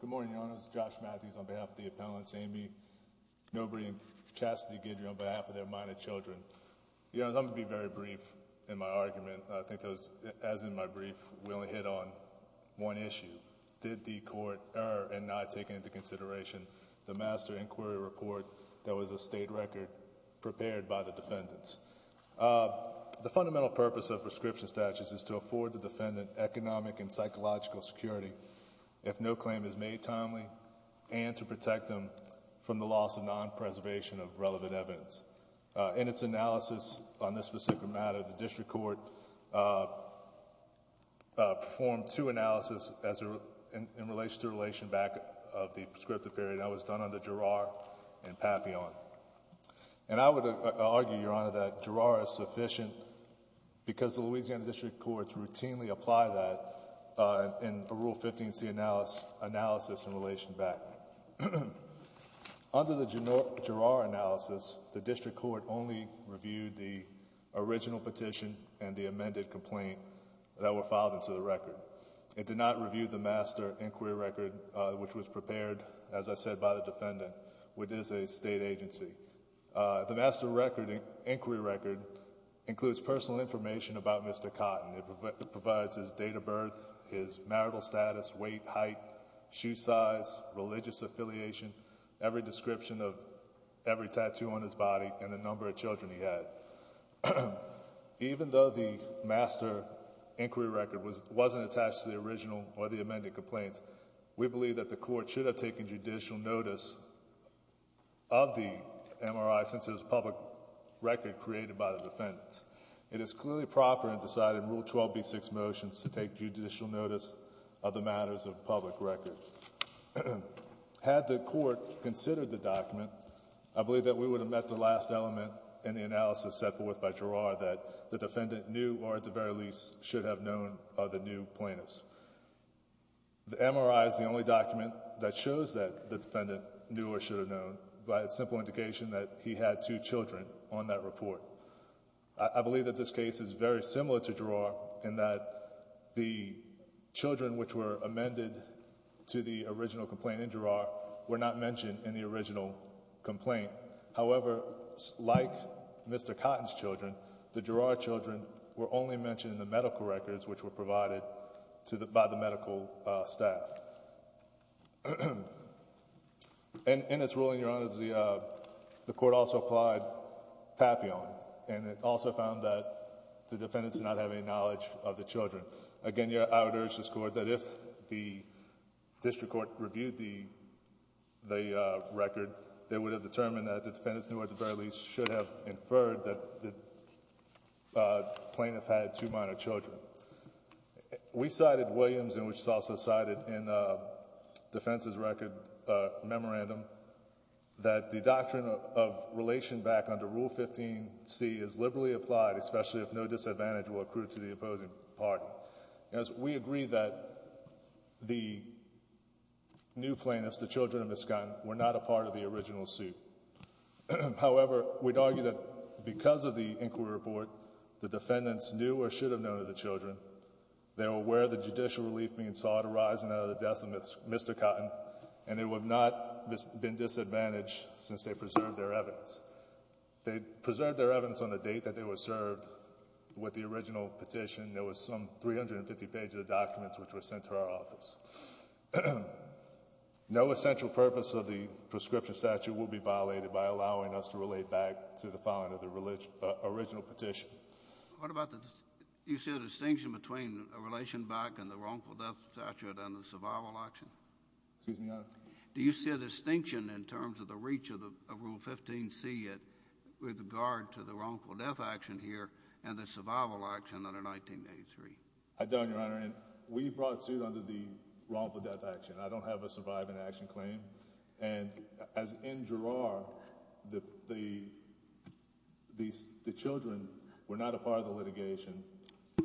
Good morning, Your Honors, Josh Matthews on behalf of the appellants, Amy Nobrey and Chastity Guidry on behalf of their minor children. Your Honors, I'm going to be very brief in my argument, as in my brief, we only hit on one issue. Did the Court err in not taking into consideration the master inquiry report that was a state record prepared by the defendants? The fundamental purpose of prescription statutes is to afford the defendant economic and psychological security if no claim is made timely and to protect them from the loss of non-preservation of relevant evidence. In its analysis on this specific matter, the District Court performed two analyses in relation to the relation back of the prescriptive period, and that was done under Girard and Papillon. And I would argue, Your Honor, that Girard is sufficient because the Louisiana District Courts routinely apply that in a Rule 15C analysis in relation back. Under the Girard analysis, the District Court only reviewed the original petition and the amended complaint that were filed into the record. It did not review the master inquiry record, which was prepared, as I said, by the defendant, which is a state agency. The master inquiry record includes personal information about Mr. Cotton. It provides his date of birth, his marital status, weight, height, shoe size, religious affiliation, every description of every tattoo on his body, and the number of children he had. Even though the master inquiry record wasn't attached to the original or the amended complaints, we believe that the Court should have taken judicial notice of the MRI since it was a public record created by the defendants. It is clearly proper in deciding Rule 12b6 motions to take judicial notice of the matters of public record. Had the Court considered the document, I believe that we would have met the last element in the analysis set forth by Girard that the defendant knew, or at the very least, should have known of the new plaintiffs. The MRI is the only document that shows that the defendant knew or should have known by a simple indication that he had two children on that report. I believe that this case is very similar to Girard in that the children which were amended to the original complaint in Girard were not mentioned in the original complaint. However, like Mr. Cotton's children, the Girard children were only mentioned in the medical records which were provided by the medical staff. In its ruling, Your Honors, the Court also applied Papillon, and it also found that the defendants did not have any knowledge of the children. Again, I would urge this Court that if the district court reviewed the record, they would have determined that the defendants knew, or at the very least, should have inferred that the plaintiff had two minor children. We cited Williams, and we also cited in the defense's record memorandum, that the doctrine of relation back under Rule 15c is liberally applied, especially if no disadvantage were accrued to the opposing party. We agree that the new plaintiffs, the children of Ms. Cotton, were not a part of the original suit. However, we would argue that because of the inquiry report, the defendants knew or should have known of the children. They were aware of the judicial relief being sought arising out of the death of Mr. Cotton, and they would not have been disadvantaged since they preserved their evidence. They preserved their evidence on the date that they were served with the original petition. There were some 350 pages of documents which were sent to our office. No essential purpose of the prescription statute will be violated by allowing us to relate back to the following of the original petition. What about the distinction between the relation back and the wrongful death statute and the survival action? Excuse me, Your Honor? Do you see a distinction in terms of the reach of Rule 15c with regard to the wrongful death action here and the survival action under 1983? I don't, Your Honor. We brought a suit under the wrongful death action. I don't have a survival action claim. As in Girard, the children were not a part of the litigation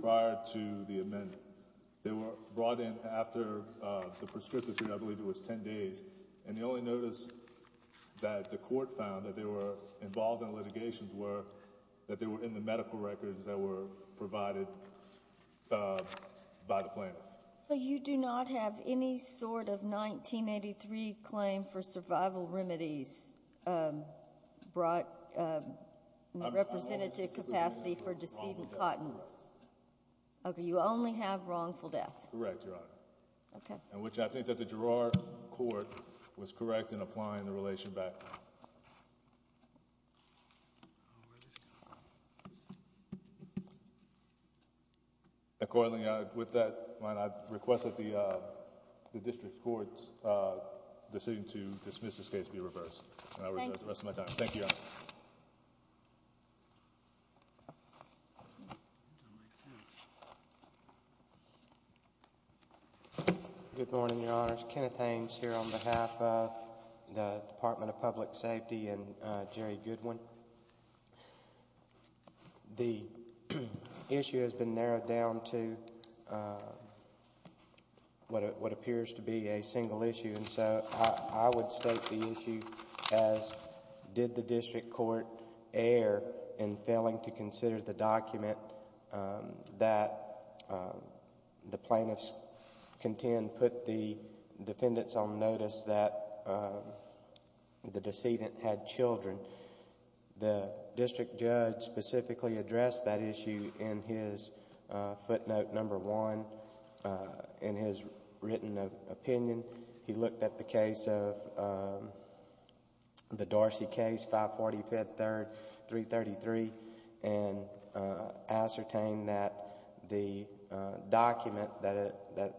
prior to the amendment. They were brought in after the prescriptive period, I believe it was 10 days, and the only notice that the court found that they were involved in a litigation were that they were provided by the plaintiffs. So you do not have any sort of 1983 claim for survival remedies representative capacity for decedent cotton? You only have wrongful death? Correct, Your Honor. Okay. And which I think that the Girard court was correct in applying the relation back. Accordingly, with that, Your Honor, I request that the district court's decision to dismiss this case be reversed. Thank you, Your Honor. Good morning, Your Honors. Kenneth Ames here on behalf of the Department of Public Safety and Jerry Goodwin. The issue has been narrowed down to what appears to be a single issue, and so I would state the issue as did the district court err in failing to consider the document that the plaintiffs contend put the defendants on notice that the decedent had children. The district judge specifically addressed that issue in his footnote number one in his written opinion. He looked at the case of... the Darcy case, 545, 333, and ascertained that the document that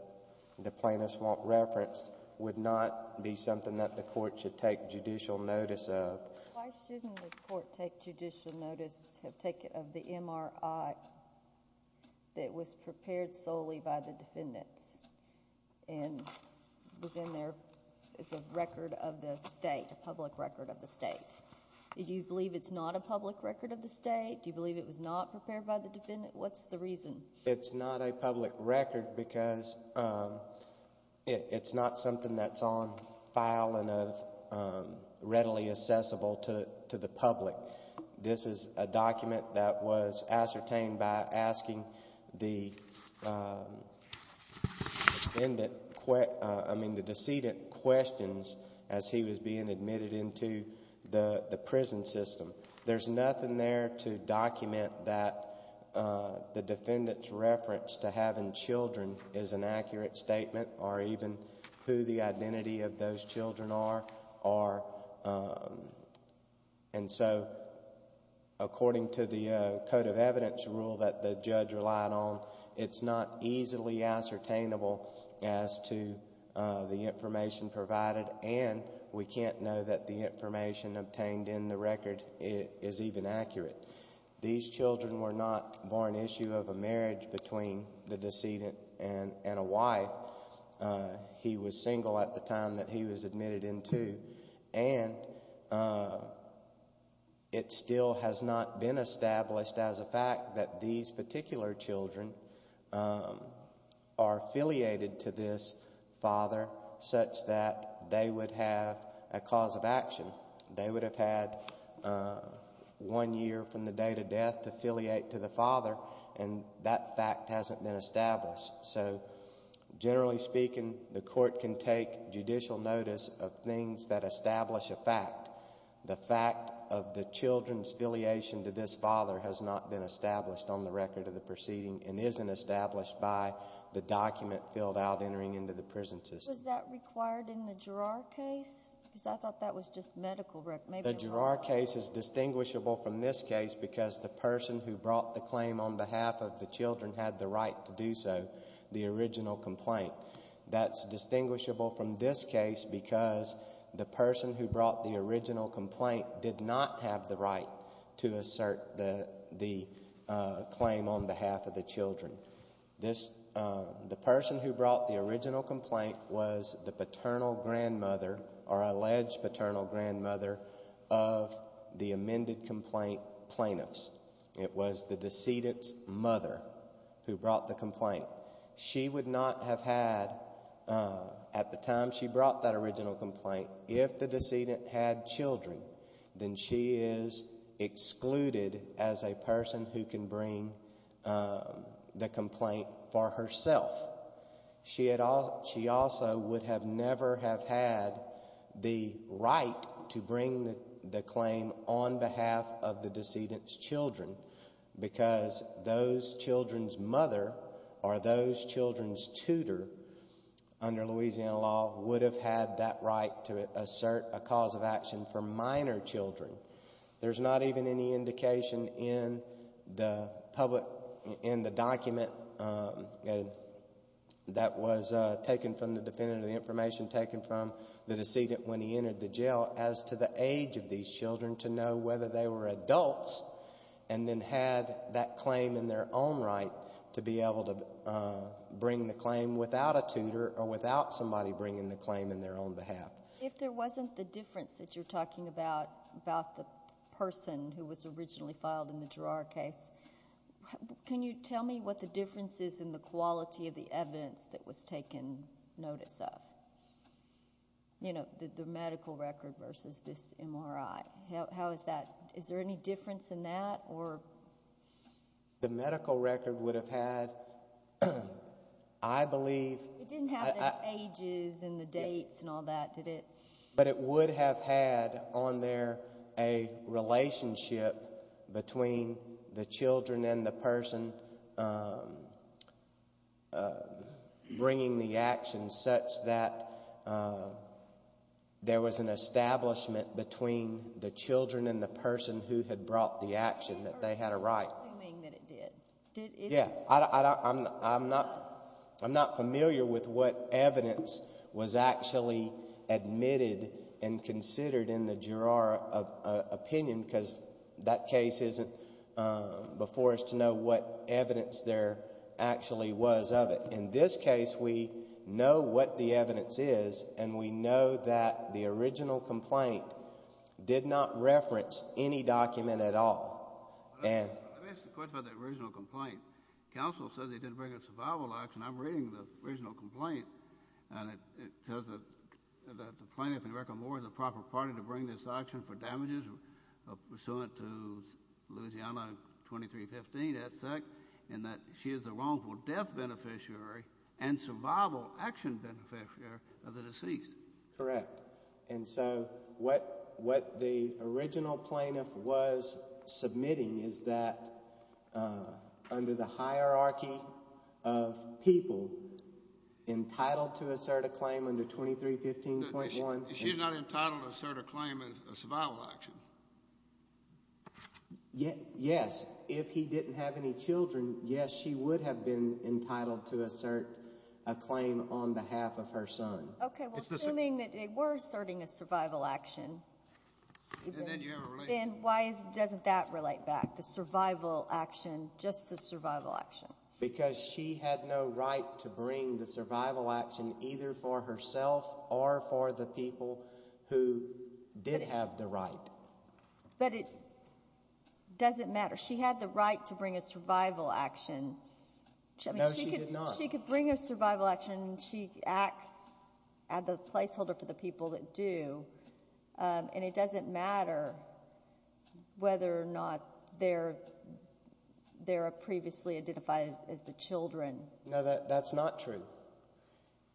the plaintiffs referenced would not be something that the court should take judicial notice of. Why shouldn't the court take judicial notice of the MRI that was prepared solely by the defendants? It was in their... it's a record of the state, a public record of the state. Do you believe it's not a public record of the state? Do you believe it was not prepared by the defendant? What's the reason? It's not a public record because it's not something that's on file and readily accessible to the public. This is a document that was ascertained by asking the defendant... I mean, the decedent questions as he was being admitted into the prison system. There's nothing there to document that the defendant's reference to having children is an accurate statement or even who the identity of those children are. And so, according to the code of evidence rule that the judge relied on, it's not easily ascertainable as to the information provided and we can't know that the information obtained in the record is even accurate. These children were not born issue of a marriage between the decedent and a wife. He was single at the time that he was admitted into and it still has not been established as a fact that these particular children are affiliated to this father such that they would have a cause of action. They would have had one year from the date of death to affiliate to the father and that fact hasn't been established. So, generally speaking, the court can take judicial notice of things that establish a fact. The fact of the children's affiliation to this father has not been established on the record of the proceeding and isn't established by the document filled out entering into the prison system. Was that required in the Girard case? Because I thought that was just medical records. The Girard case is distinguishable from this case because the person who brought the claim on behalf of the children had the right to do so, the original complaint. That's distinguishable from this case because the person who brought the original complaint did not have the right to assert the claim on behalf of the children. The person who brought the original complaint was the paternal grandmother or alleged paternal grandmother of the amended complaint plaintiffs. It was the decedent's mother who brought the complaint. She would not have had, at the time she brought that original complaint, if the decedent had children, then she is excluded as a person who can bring the complaint for herself. She also would have never have had the right to bring the claim on behalf of the decedent's children because those children's mother or those children's tutor, under Louisiana law, would have had that right to assert a cause of action for minor children. There's not even any indication in the document that was taken from the defendant, the information taken from the decedent when he entered the jail, as to the age of these children to know whether they were adults and then had that claim in their own right to be able to bring the claim without a tutor or without somebody bringing the claim in their own behalf. If there wasn't the difference that you're talking about, about the person who was originally filed in the Gerrard case, can you tell me what the difference is in the quality of the evidence that was taken notice of? You know, the medical record versus this MRI. How is that? Is there any difference in that, or? The medical record would have had, I believe... It didn't have the ages and the dates and all that, did it? But it would have had on there a relationship between the children and the person bringing the action such that there was an establishment between the children and the person who had brought the action that they had a right. I'm assuming that it did. I'm not familiar with what evidence was actually admitted and considered in the Gerrard opinion because that case isn't before us to know what evidence there actually was of it. But in this case, we know what the evidence is, and we know that the original complaint did not reference any document at all. Let me ask you a question about the original complaint. Counsel said they didn't bring a survival action. I'm reading the original complaint, and it says that the plaintiff in Reckon Moore is the proper party to bring this action for damages pursuant to Louisiana 2315, et cetera, and that she is the wrongful death beneficiary and survival action beneficiary of the deceased. Correct. And so, what the original plaintiff was submitting is that under the hierarchy of people entitled to assert a claim under 2315.1... She's not entitled to assert a claim in a survival action. Yes. If he didn't have any children, yes, she would have been entitled to assert a claim on behalf of her son. Okay. Well, assuming that they were asserting a survival action, then why doesn't that relate back, the survival action, just the survival action? Because she had no right to bring the survival action either for herself or for the people who did have the right. But it doesn't matter. She had the right to bring a survival action. No, she did not. She could bring a survival action, and she acts as the placeholder for the people that do, and it doesn't matter whether or not they're previously identified as the children. No, that's not true.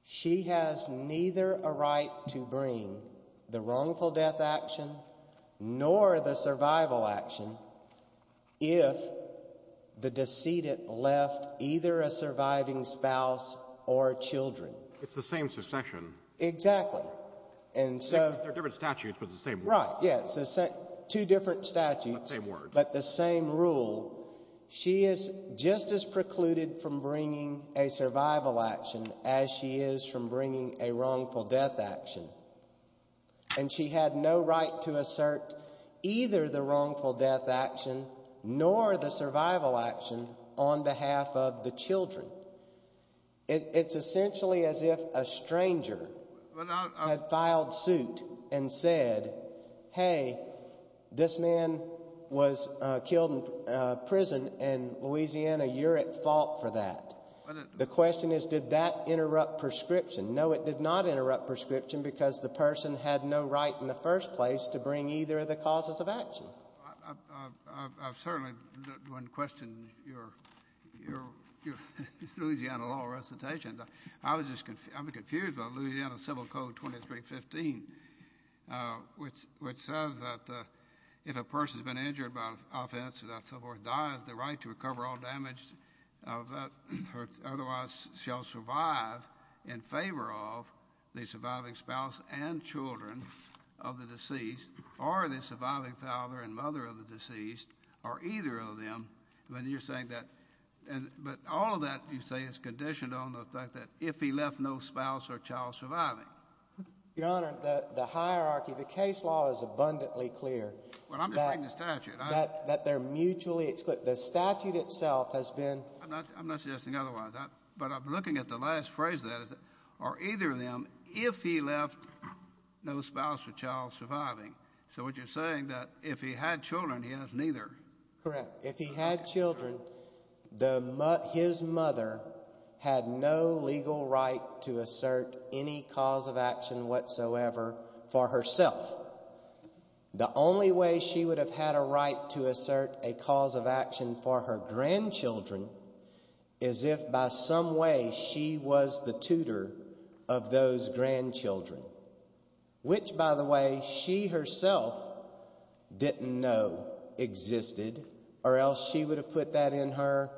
She has neither a right to bring the wrongful death action nor the survival action if the decedent left either a surviving spouse or children. It's the same succession. Exactly. And so... There are different statutes, but it's the same rule. Right. Yes. Two different statutes. But the same rule. She is just as precluded from bringing a survival action as she is from bringing a wrongful death action. And she had no right to assert either the wrongful death action nor the survival action on behalf of the children. It's essentially as if a stranger had filed suit and said, hey, this man was killed in prison in Louisiana, you're at fault for that. The question is, did that interrupt prescription? No, it did not interrupt prescription because the person had no right in the first place to bring either of the causes of action. I certainly want to question your Louisiana law recitation. I was just confused about Louisiana Civil Code 2315, which says that if a person's been injured by offense or that so forth, dies, the right to recover all damage otherwise shall survive in favor of the surviving spouse and children of the deceased or the surviving father and mother of the deceased, or either of them, when you're saying that. But all of that, you say, is conditioned on the fact that if he left no spouse or child surviving. Your Honor, the hierarchy, the case law is abundantly clear that they're mutually exclusive. The statute itself has been. I'm not suggesting otherwise. But I'm looking at the last phrase that is, or either of them, if he left no spouse or child surviving. So what you're saying that if he had children, he has neither. Correct. If he had children, the his mother had no legal right to assert any cause of action whatsoever for herself. The only way she would have had a right to assert a cause of action for her grandchildren is if by some way she was the tutor of those grandchildren. Which, by the way, she herself didn't know existed or else she would have put that in her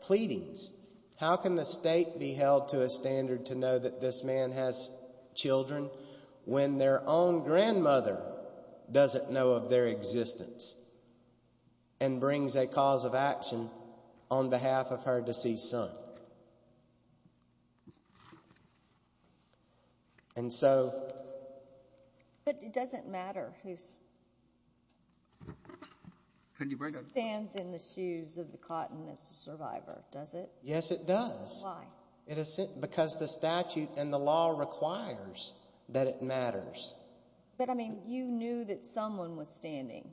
pleadings. How can the state be held to a standard to know that this man has children when their own grandmother doesn't know of their existence? And brings a cause of action on behalf of her deceased son. So. And so. But it doesn't matter who's. Can you break it? Stands in the shoes of the Cottonist survivor, does it? Yes, it does. Why? It is because the statute and the law requires that it matters. But I mean, you knew that someone was standing.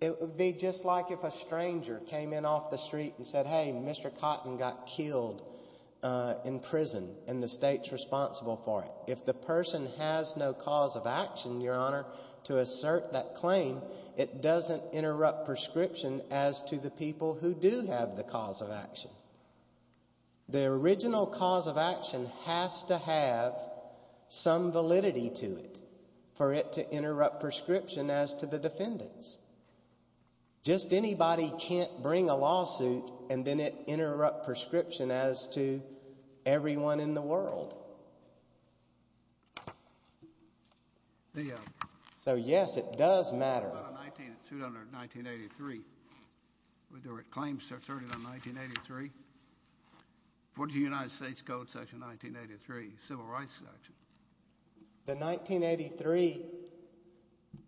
It would be just like if a stranger came in off the street and said, hey, Mr. Cotton got killed in prison and the state's responsible for it. If the person has no cause of action, your honor, to assert that claim, it doesn't interrupt prescription as to the people who do have the cause of action. The original cause of action has to have some validity to it for it to interrupt prescription as to the defendants. Just anybody can't bring a lawsuit and then it interrupt prescription as to everyone in the world. So, yes, it does matter. 1983. We do it. Claims are 30 to 1983. What did the United States Code section 1983 civil rights section? The 1983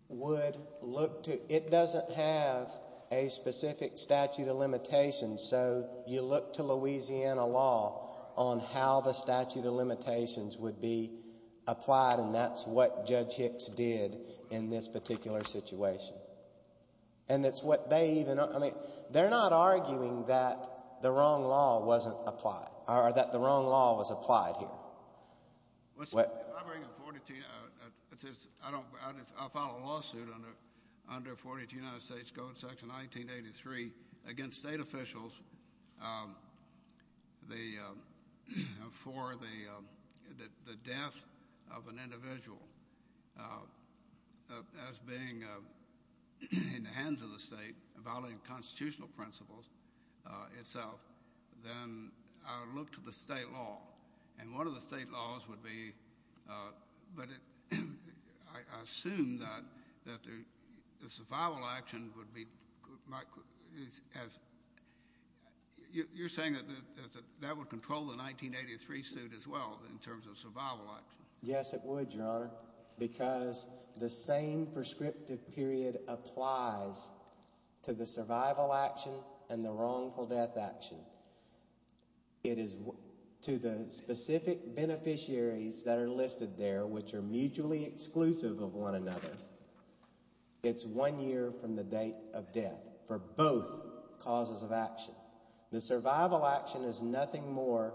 would look to, it doesn't have a specific statute of limitations, so you look to Louisiana law on how the statute of limitations would be applied and that's what Judge Hicks did in this particular situation. And it's what they even, I mean, they're not arguing that the wrong law wasn't applied or that the wrong law was applied here. If I bring a 42, I'll file a lawsuit under 42 United States Code section 1983 against state officials for the death of an individual as being in the hands of the state, violating the constitutional principles itself, then I would look to the state law. And one of the state laws would be, but I assume that the survival action would be, you're saying that that would control the 1983 suit as well in terms of survival action? Because the same prescriptive period applies to the survival action and the wrongful death action. It is, to the specific beneficiaries that are listed there, which are mutually exclusive of one another, it's one year from the date of death for both causes of action. The survival action is nothing more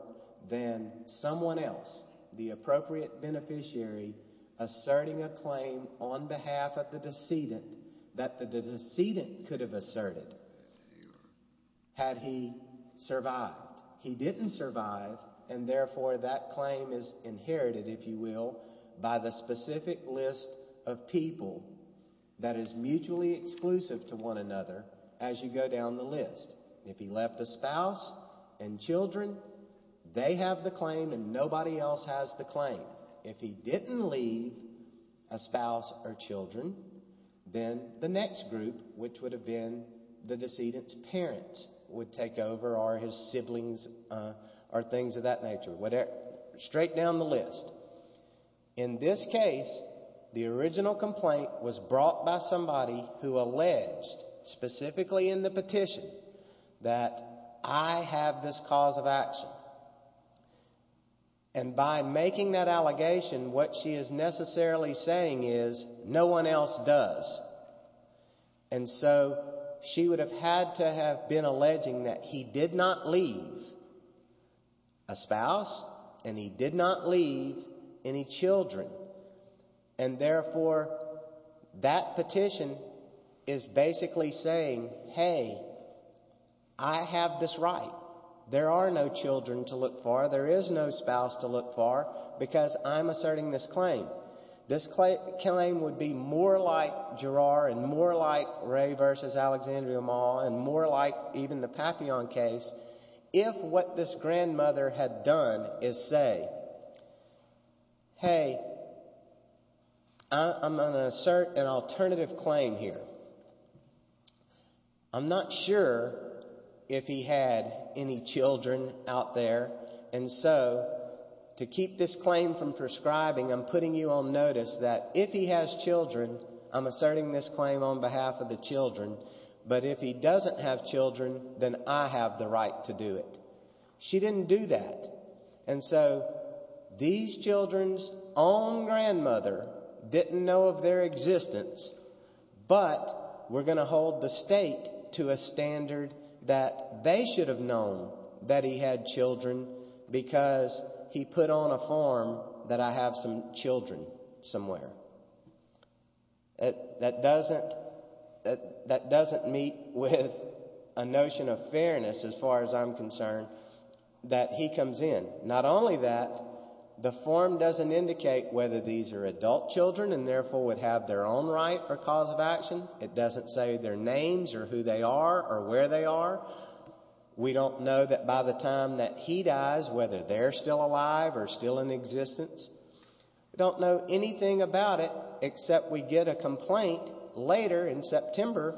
than someone else, the appropriate beneficiary, asserting a claim on behalf of the decedent that the decedent could have asserted had he survived. He didn't survive and therefore that claim is inherited, if you will, by the specific list of people that is mutually exclusive to one another as you go down the list. If he left a spouse and children, they have the claim and nobody else has the claim. If he didn't leave a spouse or children, then the next group, which would have been the decedent's parents, would take over or his siblings or things of that nature, whatever, straight down the list. In this case, the original complaint was brought by somebody who alleged, specifically in the case of the decedent, that I have this cause of action. And by making that allegation, what she is necessarily saying is no one else does. And so she would have had to have been alleging that he did not leave a spouse and he did not leave any children. And therefore, that petition is basically saying, hey, I have this right. There are no children to look for. There is no spouse to look for because I'm asserting this claim. This claim would be more like Gerard and more like Ray versus Alexandria Mall and more like even the Papillon case if what this grandmother had done is say, hey, I'm going to assert an alternative claim here. I'm not sure if he had any children out there. And so to keep this claim from prescribing, I'm putting you on notice that if he has children, I'm asserting this claim on behalf of the children. But if he doesn't have children, then I have the right to do it. She didn't do that. And so these children's own grandmother didn't know of their existence, but we're going to hold the state to a standard that they should have known that he had children because he put on a form that I have some children somewhere. That doesn't meet with a notion of fairness as far as I'm concerned that he comes in. Not only that, the form doesn't indicate whether these are adult children and therefore would have their own right or cause of action. It doesn't say their names or who they are or where they are. We don't know that by the time that he dies, whether they're still alive or still in existence. We don't know anything about it except we get a complaint later in September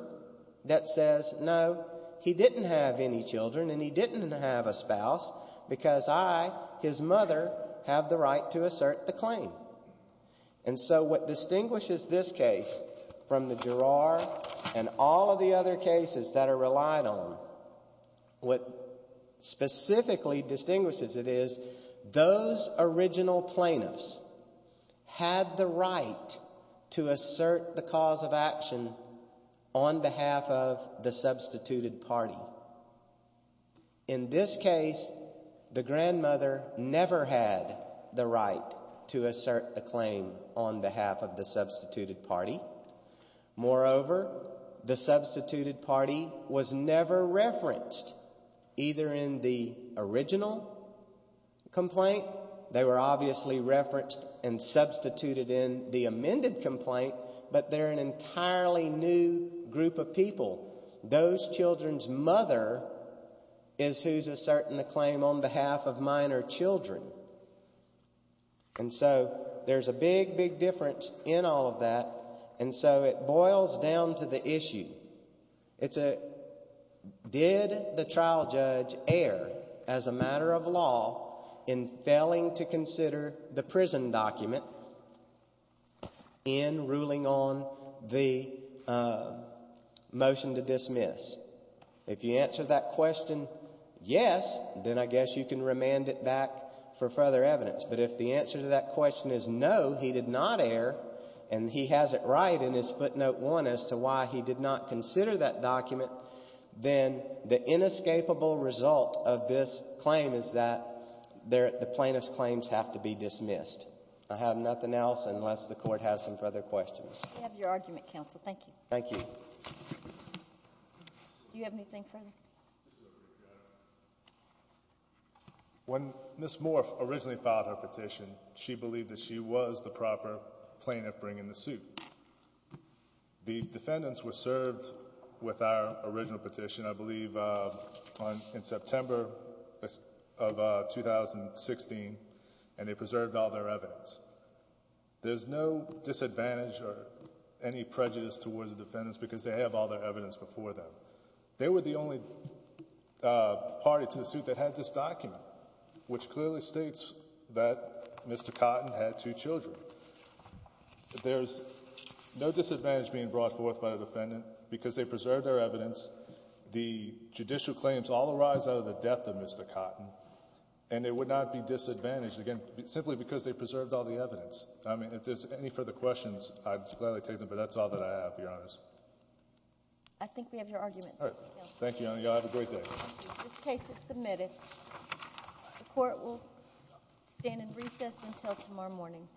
that says, no, he didn't have any children and he didn't have a spouse because I, his mother, have the right to assert the claim. And so what distinguishes this case from the Girard and all of the other cases that are plaintiffs had the right to assert the cause of action on behalf of the substituted party. In this case, the grandmother never had the right to assert a claim on behalf of the substituted party. Moreover, the substituted party was never referenced either in the original complaint. They were obviously referenced and substituted in the amended complaint, but they're an entirely new group of people. Those children's mother is who's asserting the claim on behalf of minor children. And so there's a big, big difference in all of that. And so it boils down to the issue. It's a, did the trial judge err as a matter of law in failing to consider the prison document in ruling on the motion to dismiss? If you answer that question, yes, then I guess you can remand it back for further evidence. But if the answer to that question is no, he did not err and he has it right in his mind, he did not consider that document, then the inescapable result of this claim is that the plaintiff's claims have to be dismissed. I have nothing else unless the Court has some further questions. We have your argument, counsel. Thank you. Thank you. Do you have anything further? When Ms. Morph originally filed her petition, she believed that she was the proper plaintiff bringing the suit. The defendants were served with our original petition, I believe, in September of 2016, and they preserved all their evidence. There's no disadvantage or any prejudice towards the defendants because they have all their evidence before them. They were the only party to the suit that had this document, which clearly states that Mr. Cotton had two children. There's no disadvantage being brought forth by the defendant because they preserved their evidence. The judicial claims all arise out of the death of Mr. Cotton, and they would not be disadvantaged, again, simply because they preserved all the evidence. I mean, if there's any further questions, I'd gladly take them, but that's all that I have, Your Honors. I think we have your argument. All right. Thank you, Your Honor. Y'all have a great day. The Court will stand in recess until tomorrow morning. Thank you. Thank you. Thank you. Thank you. Thank you.